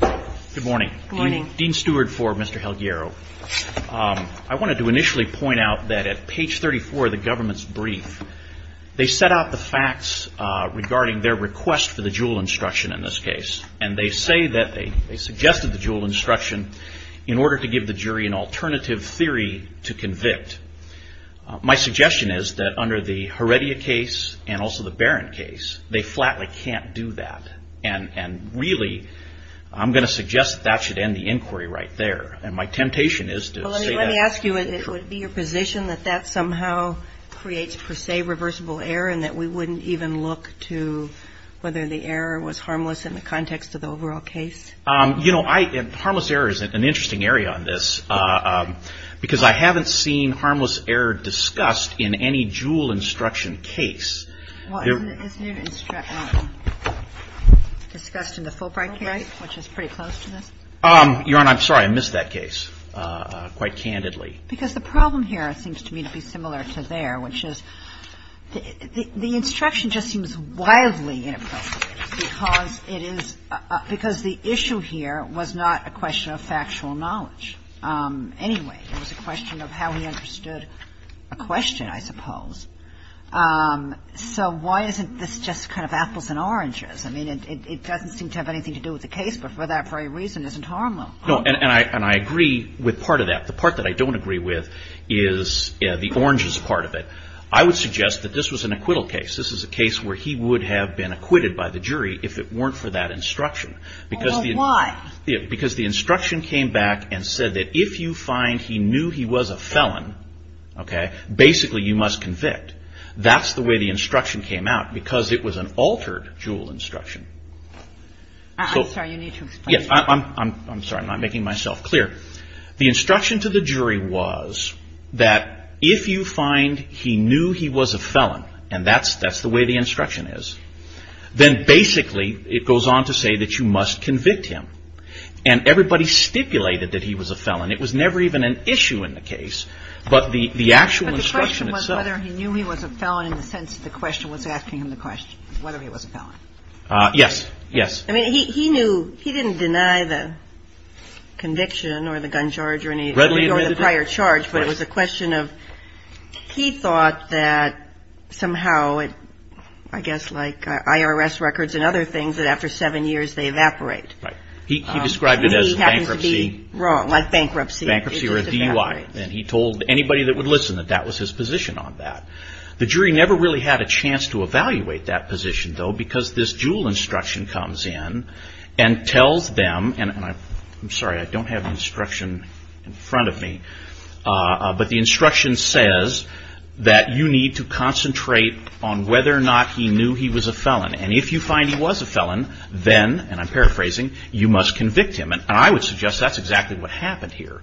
Good morning. Dean Stewart for Mr. Helguero. I wanted to initially point out that at page 34 of the government's brief, they set out the facts regarding their request for the Juul instruction in this case. And they say that they suggested the Juul instruction in order to give the jury an alternative theory to convict. My suggestion is that under the Heredia case and also the Barron case, they can't flatly do that. And really, I'm going to suggest that that should end the inquiry right there. And my temptation is to say that. Let me ask you, would it be your position that that somehow creates per se reversible error and that we wouldn't even look to whether the error was harmless in the context of the overall case? You know, harmless error is an interesting area on this, because I haven't seen harmless error discussed in any Juul instruction case. Well, isn't it discussed in the Fulbright case, which is pretty close to this? Your Honor, I'm sorry. I missed that case quite candidly. Because the problem here seems to me to be similar to there, which is the instruction just seems wildly inappropriate because it is – because the issue here was not a question of factual knowledge. Anyway, it was a question of how he understood a question, I suppose. So why isn't this just kind of apples and oranges? I mean, it doesn't seem to have anything to do with the case, but for that very reason, isn't harmless. No. And I agree with part of that. The part that I don't agree with is the oranges part of it. I would suggest that this was an acquittal case. This is a case where he would have been acquitted by the jury if it weren't for that instruction. Well, why? Because the instruction came back and said that if you find he knew he was a felon, okay, basically you must convict. That's the way the instruction came out because it was an altered Juul instruction. I'm sorry. You need to explain. Yes. I'm sorry. I'm not making myself clear. The instruction to the jury was that if you find he knew he was a felon, and that's the way the instruction is, then basically it goes on to say that you must convict him. And everybody stipulated that he was a felon. It was never even an issue in the case, but the actual instruction itself. But the question was whether he knew he was a felon in the sense that the question was asking him the question whether he was a felon. Yes. Yes. I mean, he knew he didn't deny the conviction or the gun charge or the prior charge, but it was a question of he thought that somehow, I guess like IRS records and other things, that after seven years they evaporate. Right. He described it as bankruptcy. He happened to be wrong, like bankruptcy. Bankruptcy or a DUI. And he told anybody that would listen that that was his position on that. The jury never really had a chance to evaluate that position, though, because this Juul instruction comes in and tells them, and I'm sorry, I don't have the instruction in front of me, but the instruction says that you need to concentrate on whether or not he knew he was a felon. And if you find he was a felon, then, and I'm paraphrasing, you must convict him. And I would suggest that's exactly what happened here.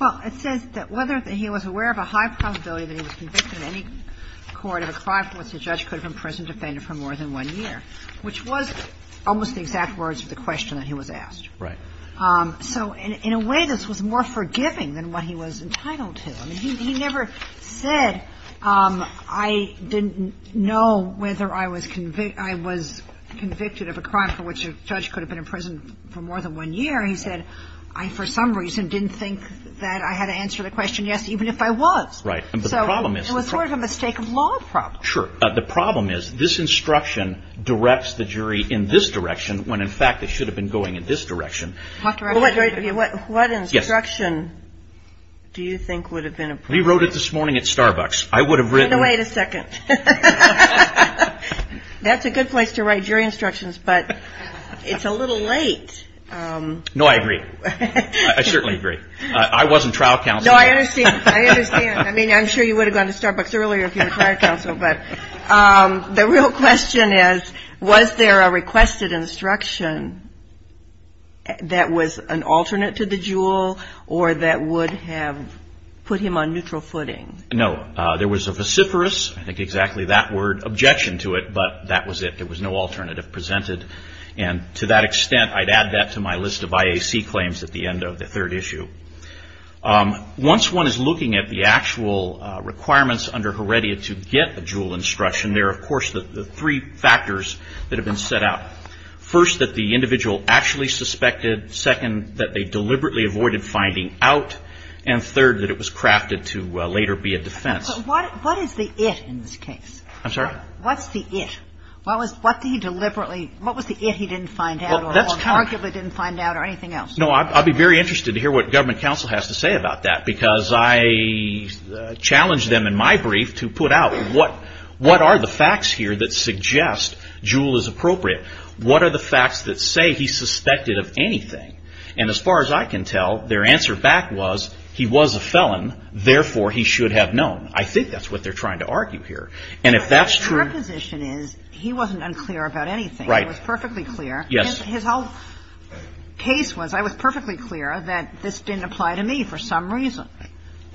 Well, it says that whether he was aware of a high probability that he was convicted in any court of a crime for which the judge could have imprisoned or defended for more than one year, which was almost the exact words of the question that he was asked. Right. So in a way, this was more forgiving than what he was entitled to. I mean, he never said, I didn't know whether I was convicted of a crime for which a judge could have been imprisoned for more than one year. He said, I, for some reason, didn't think that I had to answer the question yes, even if I was. Right. So it was sort of a mistake of law problem. Sure. The problem is this instruction directs the jury in this direction when, in fact, it should have been going in this direction. What instruction do you think would have been appropriate? We wrote it this morning at Starbucks. I would have written. No, wait a second. That's a good place to write jury instructions, but it's a little late. No, I agree. I certainly agree. I wasn't trial counsel. No, I understand. I understand. I mean, I'm sure you would have gone to Starbucks earlier if you were trial counsel, but the real question is, was there a requested instruction that was an alternate to the jewel or that would have put him on neutral footing? No. There was a vociferous, I think exactly that word, objection to it, but that was it. There was no alternative presented. And to that extent, I'd add that to my list of IAC claims at the end of the third issue. Once one is looking at the actual requirements under Heredia to get a jewel instruction, there are, of course, the three factors that have been set out. First, that the individual actually suspected. Second, that they deliberately avoided finding out. And third, that it was crafted to later be a defense. But what is the it in this case? I'm sorry? What's the it? What was the it he didn't find out or arguably didn't find out or anything else? No, I'd be very interested to hear what government counsel has to say about that, because I challenged them in my brief to put out what are the facts here that suggest jewel is appropriate? What are the facts that say he suspected of anything? And as far as I can tell, their answer back was he was a felon, therefore, he should have known. I think that's what they're trying to argue here. And if that's true. Your position is he wasn't unclear about anything. Right. He was perfectly clear. Yes. His whole case was I was perfectly clear that this didn't apply to me for some reason.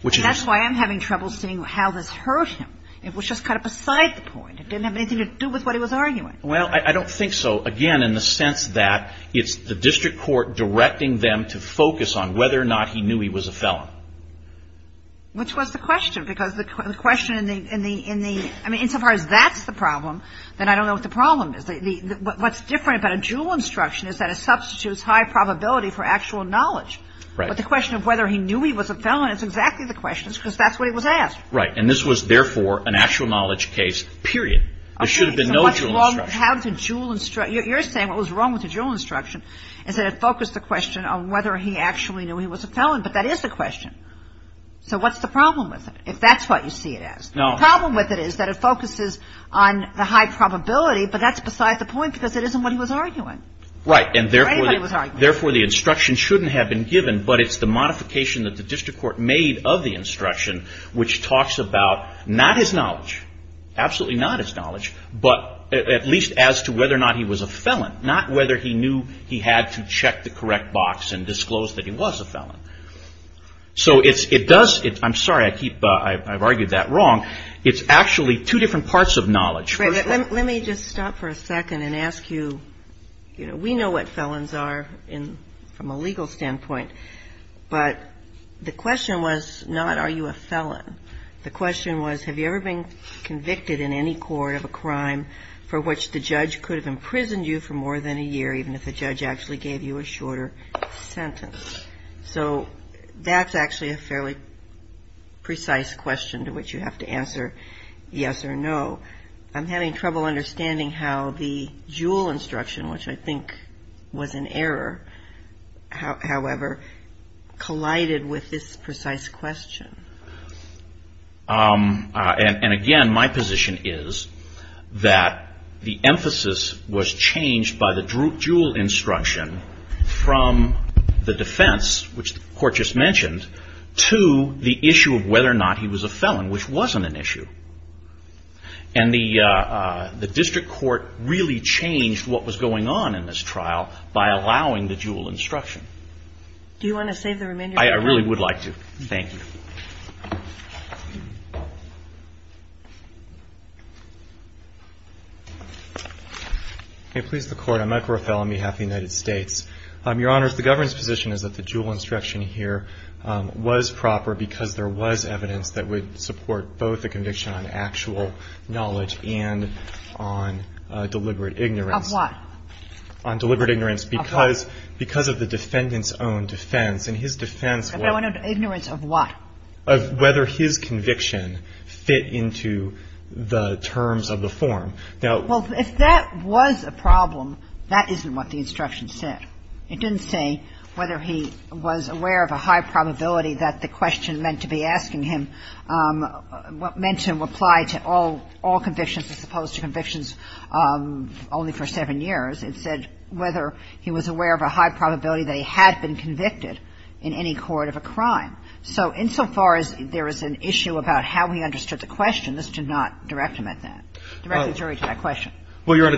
And that's why I'm having trouble seeing how this hurt him. It was just kind of beside the point. It didn't have anything to do with what he was arguing. Well, I don't think so. Again, in the sense that it's the district court directing them to focus on whether or not he knew he was a felon. Which was the question, because the question in the – I mean, insofar as that's the problem, then I don't know what the problem is. What's different about a Juul instruction is that it substitutes high probability for actual knowledge. Right. But the question of whether he knew he was a felon is exactly the question, because that's what he was asked. Right. And this was, therefore, an actual knowledge case, period. There should have been no Juul instruction. You're saying what was wrong with the Juul instruction is that it focused the question on whether he actually knew he was a felon. But that is the question. So what's the problem with it, if that's what you see it as? No. The problem with it is that it focuses on the high probability, but that's besides the point because it isn't what he was arguing. Right. Or anybody was arguing. Therefore, the instruction shouldn't have been given, but it's the modification that the district court made of the instruction, which talks about not his knowledge, absolutely not his knowledge, but at least as to whether or not he was a felon, not whether he knew he had to check the correct box and disclose that he was a felon. So it does, I'm sorry, I keep, I've argued that wrong. It's actually two different parts of knowledge. Let me just stop for a second and ask you, you know, we know what felons are from a legal standpoint, but the question was not are you a felon. The question was have you ever been convicted in any court of a crime for which the judge could have imprisoned you for more than a year, even if the judge actually gave you a shorter sentence. So that's actually a fairly precise question to which you have to answer yes or no. I'm having trouble understanding how the Juul instruction, which I think was an error, however, collided with this precise question. And again, my position is that the emphasis was changed by the Juul instruction from the defense, which the court just mentioned, to the issue of whether or not he was a felon, which wasn't an issue. And the district court really changed what was going on in this trial by allowing the Juul instruction. Do you want to save the remainder of your time? I really would like to. Thank you. Okay. Please, the Court. I'm Michael Rofel on behalf of the United States. Your Honors, the government's position is that the Juul instruction here was proper because there was evidence that would support both the conviction on actual knowledge and on deliberate ignorance. Of what? On deliberate ignorance because of the defendant's own defense, and his defense was deliberate ignorance of what? Of whether his conviction fit into the terms of the form. Now — Well, if that was a problem, that isn't what the instruction said. It didn't say whether he was aware of a high probability that the question meant to be asking him what meant to apply to all convictions as opposed to convictions only for seven years. It said whether he was aware of a high probability that he had been convicted in any court of a crime. So insofar as there is an issue about how he understood the question, this did not direct him at that, direct the jury to that question. Well, Your Honor,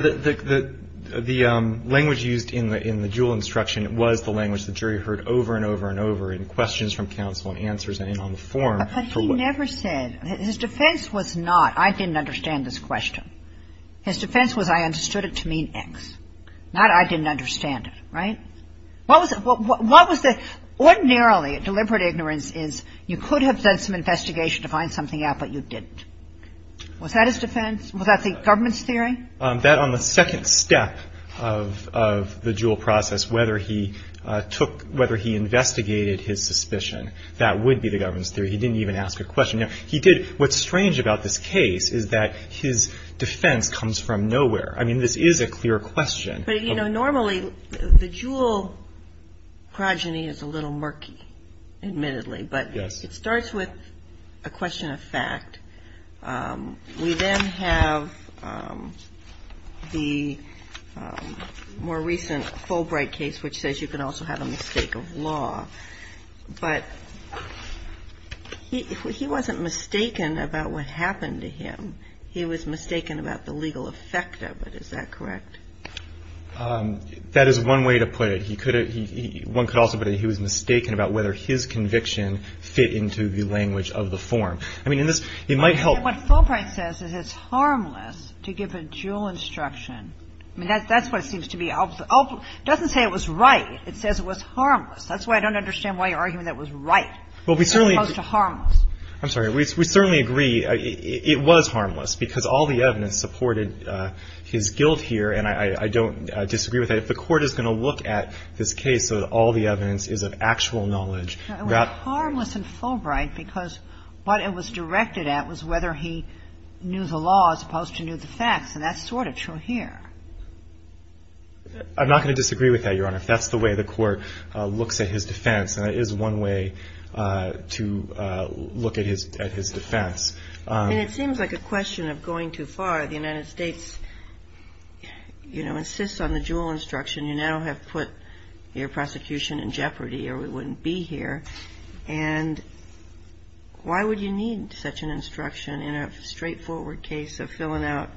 the language used in the Juul instruction was the language the jury heard over and over and over in questions from counsel and answers on the form. But he never said — his defense was not, I didn't understand this question. His defense was, I understood it to mean X. Not, I didn't understand it, right? What was the — ordinarily, deliberate ignorance is you could have done some investigation to find something out, but you didn't. Was that his defense? Was that the government's theory? That on the second step of the Juul process, whether he took — whether he investigated his suspicion, that would be the government's theory. He didn't even ask a question. He did — what's strange about this case is that his defense comes from nowhere. I mean, this is a clear question. But, you know, normally the Juul progeny is a little murky, admittedly. But it starts with a question of fact. We then have the more recent Fulbright case, which says you can also have a mistake of law. But he wasn't mistaken about what happened to him. He was mistaken about the legal effect of it. Is that correct? That is one way to put it. He could have — one could also put it he was mistaken about whether his conviction fit into the language of the form. I mean, in this — it might help. What Fulbright says is it's harmless to give a Juul instruction. I mean, that's what it seems to be. It doesn't say it was right. It says it was harmless. That's why I don't understand why you're arguing that it was right as opposed to harmless. I'm sorry. We certainly agree it was harmless because all the evidence supported his guilt here. And I don't disagree with that. If the Court is going to look at this case so that all the evidence is of actual knowledge. It was harmless in Fulbright because what it was directed at was whether he knew the law as opposed to knew the facts. And that's sort of true here. I'm not going to disagree with that, Your Honor. If that's the way the Court looks at his defense, then it is one way to look at his defense. And it seems like a question of going too far. The United States, you know, insists on the Juul instruction. You now have put your prosecution in jeopardy or we wouldn't be here. And why would you need such an instruction in a straightforward case of filling out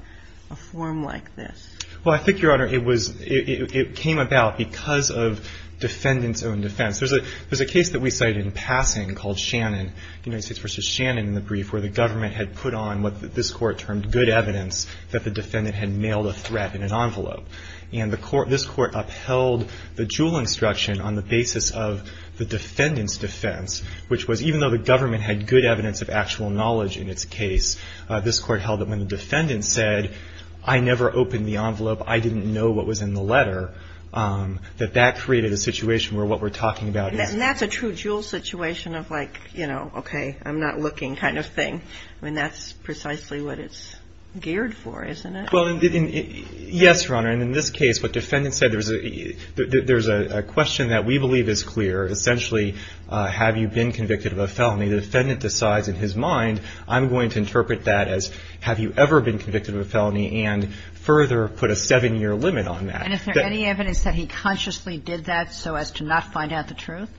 a form like this? Well, I think, Your Honor, it came about because of defendant's own defense. There's a case that we cited in passing called Shannon, United States v. Shannon, in the brief where the government had put on what this Court termed good evidence that the defendant had mailed a threat in an envelope. And this Court upheld the Juul instruction on the basis of the defendant's defense, which was even though the government had good evidence of actual knowledge in its case, this Court held that when the defendant said, I never opened the envelope, I didn't know what was in the letter, that that created a situation where what we're talking about is. And that's a true Juul situation of like, you know, okay, I'm not looking kind of thing. I mean, that's precisely what it's geared for, isn't it? Well, yes, Your Honor. And in this case, what defendant said, there's a question that we believe is clear. Essentially, have you been convicted of a felony? The defendant decides in his mind, I'm going to interpret that as, have you ever been convicted of a felony, and further put a seven-year limit on that. And is there any evidence that he consciously did that so as to not find out the truth?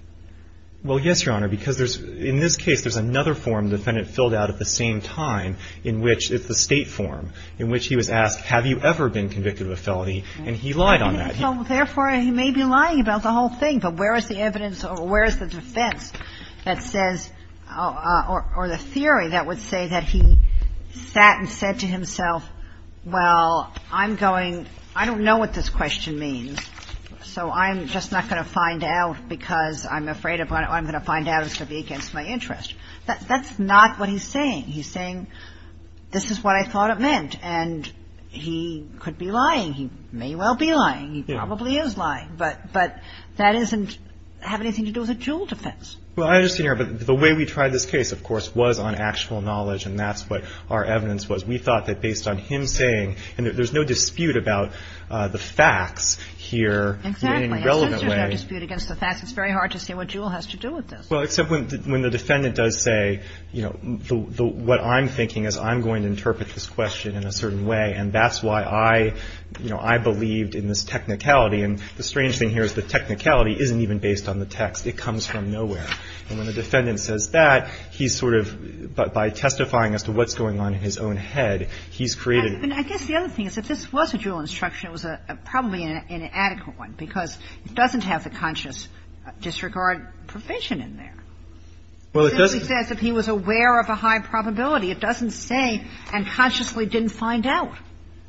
Well, yes, Your Honor, because there's – in this case, there's another form the defendant filled out at the same time in which it's the State form, in which he was asked, have you ever been convicted of a felony? And he lied on that. Therefore, he may be lying about the whole thing. But where is the evidence or where is the defense that says – or the theory that would say that he sat and said to himself, well, I'm going – I don't know what this question means, so I'm just not going to find out because I'm afraid of what I'm going to find out is going to be against my interest. That's not what he's saying. He's saying this is what I thought it meant, and he could be lying. He may well be lying. He probably is lying. But that doesn't have anything to do with the Jewell defense. Well, I understand, Your Honor, but the way we tried this case, of course, was on actual knowledge, and that's what our evidence was. We thought that based on him saying – and there's no dispute about the facts here in any relevant way. Exactly. And since there's no dispute against the facts, it's very hard to say what Jewell has to do with this. Well, except when the defendant does say, you know, what I'm thinking is I'm going to interpret this question in a certain way, and that's why I, you know, I believed in this technicality. And the strange thing here is the technicality isn't even based on the text. It comes from nowhere. And when the defendant says that, he's sort of – by testifying as to what's going on in his own head, he's created – I guess the other thing is if this was a Jewell instruction, it was probably an inadequate one, because it doesn't have the conscious disregard provision in there. Well, it doesn't. It says if he was aware of a high probability. It doesn't say, and consciously didn't find out.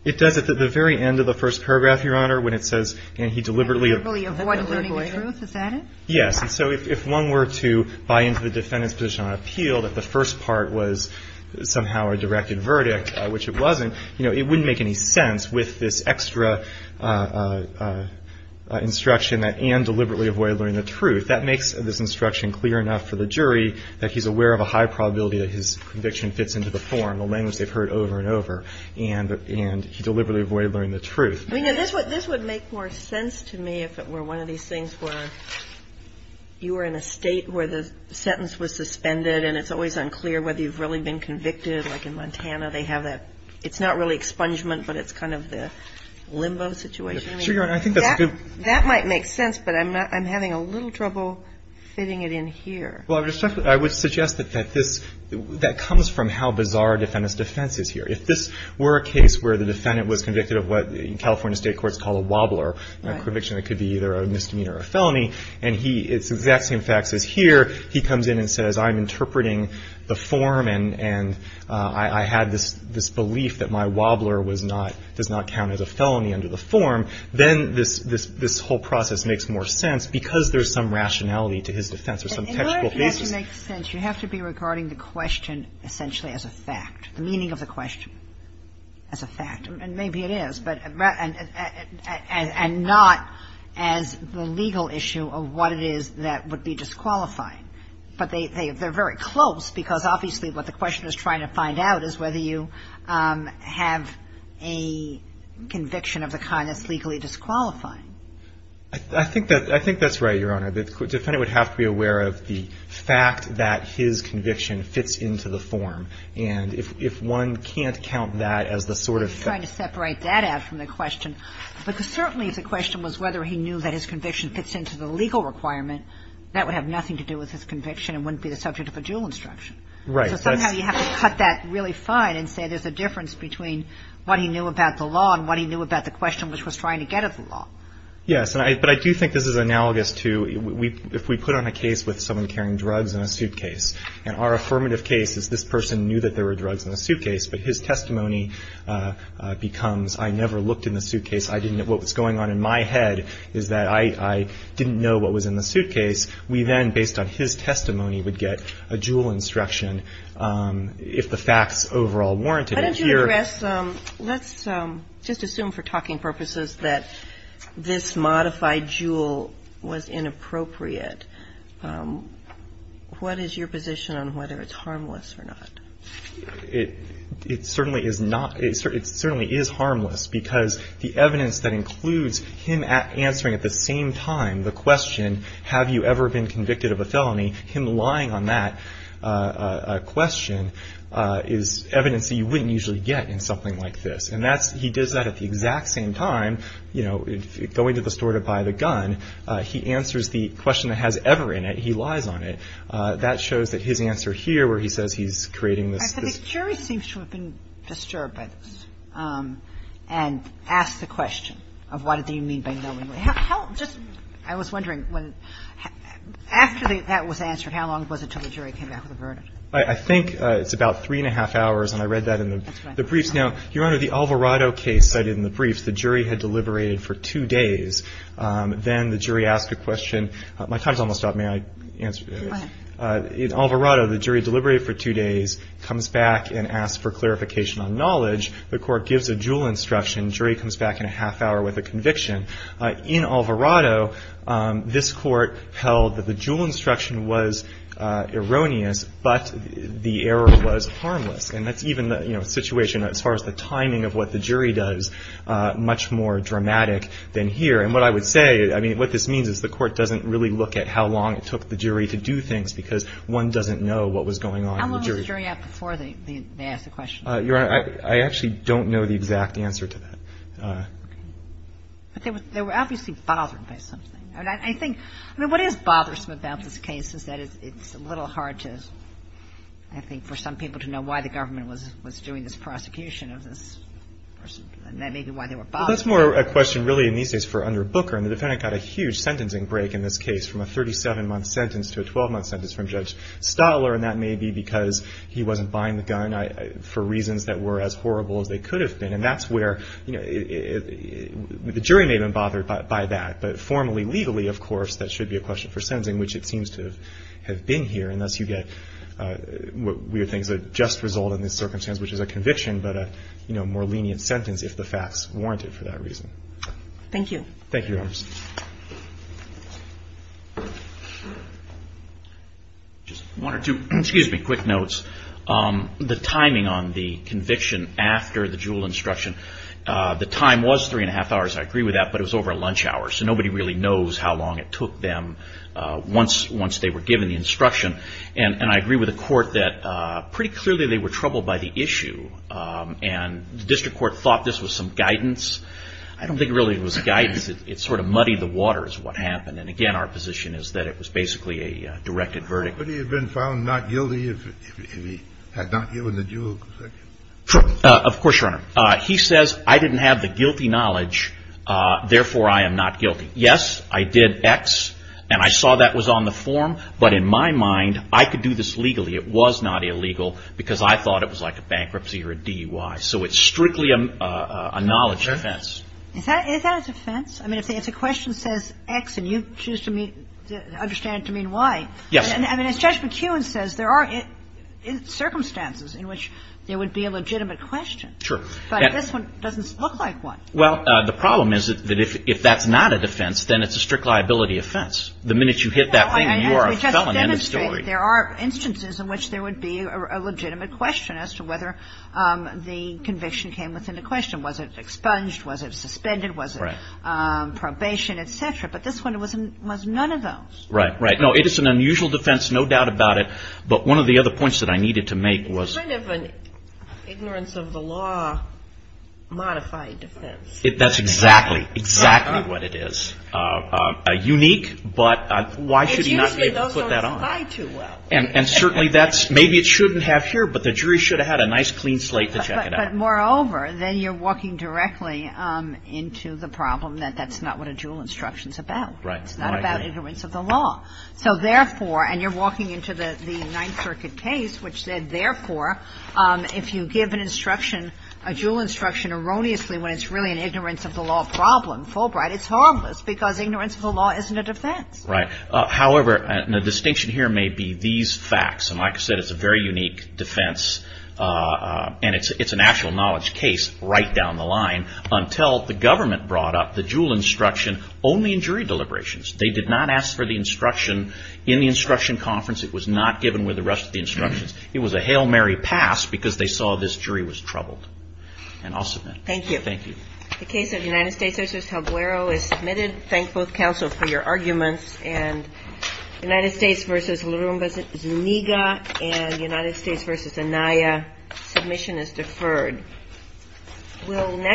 It does at the very end of the first paragraph, Your Honor, when it says, and he deliberately avoided learning the truth. Is that it? Yes. And so if one were to buy into the defendant's position on appeal that the first part was somehow a directed verdict, which it wasn't, you know, it wouldn't make any sense with this extra instruction that, and deliberately avoid learning the truth. That makes this instruction clear enough for the jury that he's aware of a high probability that his conviction fits into the form, the language they've heard over and over, and he deliberately avoided learning the truth. I mean, this would make more sense to me if it were one of these things where you were in a State where the sentence was suspended and it's always unclear whether you've really been convicted. Like in Montana, they have that – it's not really expungement, but it's kind of the limbo situation. That might make sense, but I'm having a little trouble fitting it in here. Well, I would suggest that this, that comes from how bizarre a defendant's defense is here. If this were a case where the defendant was convicted of what California State courts call a wobbler, a conviction that could be either a misdemeanor or a felony, and he, it's the exact same facts as here. He comes in and says, I'm interpreting the form, and I had this belief that my wobbler was not, does not count as a felony under the form, then this whole process makes more sense because there's some rationality to his defense or some textual basis. In order for that to make sense, you have to be regarding the question essentially as a fact, the meaning of the question as a fact. And maybe it is, but – and not as the legal issue of what it is that would be disqualifying. But they're very close because obviously what the questioner's trying to find out is whether you have a conviction of the kind that's legally disqualifying. I think that's right, Your Honor. The defendant would have to be aware of the fact that his conviction fits into the form. And if one can't count that as the sort of – I'm trying to separate that out from the question because certainly if the question was whether he knew that his conviction fits into the legal requirement, that would have nothing to do with his conviction and wouldn't be the subject of a dual instruction. Right. So somehow you have to cut that really fine and say there's a difference between what he knew about the law and what he knew about the question which was trying to get at the law. Yes. But I do think this is analogous to if we put on a case with someone carrying drugs in a suitcase and our affirmative case is this person knew that there were drugs in the suitcase, but his testimony becomes I never looked in the suitcase. I didn't – what was going on in my head is that I didn't know what was in the suitcase. We then, based on his testimony, would get a dual instruction if the facts overall warranted it. Why don't you address – let's just assume for talking purposes that this modified dual was inappropriate. What is your position on whether it's harmless or not? It certainly is not – it certainly is harmless because the evidence that includes him answering at the same time the question have you ever been convicted of a felony, him lying on that question is evidence that you wouldn't usually get in something like this. And that's – he does that at the exact same time, you know, going to the store to buy the gun. He answers the question that has ever in it. He lies on it. That shows that his answer here where he says he's creating this – I think you should have been disturbed by this and asked the question of what do you mean by knowingly. How – just – I was wondering when – after that was answered, how long was it until the jury came back with a verdict? I think it's about three and a half hours, and I read that in the briefs. Now, Your Honor, the Alvarado case cited in the briefs, the jury had deliberated for two days. Then the jury asked a question. My time's almost up. May I answer? Go ahead. In Alvarado, the jury deliberated for two days, comes back and asks for clarification on knowledge. The court gives a jewel instruction. The jury comes back in a half hour with a conviction. In Alvarado, this court held that the jewel instruction was erroneous, but the error was harmless. And that's even the, you know, situation as far as the timing of what the jury does much more dramatic than here. And what I would say – I mean, what this means is the court doesn't really look at how long it took the jury to do things because one doesn't know what was going on in the jury. How long was the jury out before they asked the question? Your Honor, I actually don't know the exact answer to that. Okay. But they were obviously bothered by something. I mean, I think – I mean, what is bothersome about this case is that it's a little hard to – I think for some people to know why the government was doing this prosecution of this person and maybe why they were bothered. Well, that's more a question really in these days for under Booker. And the defendant got a huge sentencing break in this case from a 37-month sentence to a 12-month sentence from Judge Stotler. And that may be because he wasn't buying the gun for reasons that were as horrible as they could have been. And that's where – you know, the jury may have been bothered by that. But formally, legally, of course, that should be a question for sentencing, which it seems to have been here. And thus you get what we think is a just result in this circumstance, which is a conviction but a, you know, more lenient sentence if the facts warrant it for that reason. Thank you. Thank you, Your Honors. Just one or two – excuse me – quick notes. The timing on the conviction after the Juul instruction, the time was three and a half hours. I agree with that. But it was over lunch hour. So nobody really knows how long it took them once they were given the instruction. And I agree with the Court that pretty clearly they were troubled by the issue. And the District Court thought this was some guidance. I don't think it really was guidance. It sort of muddied the water is what happened. And again, our position is that it was basically a directed verdict. But he had been found not guilty if he had not given the Juul section. Of course, Your Honor. He says, I didn't have the guilty knowledge. Therefore, I am not guilty. Yes, I did X. And I saw that was on the form. But in my mind, I could do this legally. It was not illegal because I thought it was like a bankruptcy or a DUI. So it's strictly a knowledge offense. Is that a defense? I mean, if the question says X and you choose to understand it to mean Y. Yes. I mean, as Judge McEwen says, there are circumstances in which there would be a legitimate question. Sure. But this one doesn't look like one. Well, the problem is that if that's not a defense, then it's a strict liability offense. The minute you hit that thing, you are a felon in the story. There are instances in which there would be a legitimate question as to whether the conviction came within the question. Was it expunged? Was it suspended? Was it probation, et cetera? But this one was none of those. Right, right. No, it is an unusual defense, no doubt about it. But one of the other points that I needed to make was. It's kind of an ignorance of the law modified defense. That's exactly, exactly what it is. Unique, but why should you not be able to put that on? And certainly that's maybe it shouldn't have here, but the jury should have had a nice clean slate to check it out. But moreover, then you're walking directly into the problem that that's not what a Juul instruction is about. Right. It's not about ignorance of the law. So therefore, and you're walking into the Ninth Circuit case which said, therefore, if you give an instruction, a Juul instruction erroneously when it's really an ignorance of the law problem, Fulbright, it's harmless because ignorance of the law isn't a defense. Right. However, the distinction here may be these facts. And like I said, it's a very unique defense. And it's an actual knowledge case right down the line until the government brought up the Juul instruction only in jury deliberations. They did not ask for the instruction in the instruction conference. It was not given with the rest of the instructions. It was a hail Mary pass because they saw this jury was troubled. And I'll submit. Thank you. Thank you. The case of the United States v. Talguero is submitted. Thank both counsel for your arguments. And United States v. Larumba-Zuniga and United States v. Anaya, submission is deferred.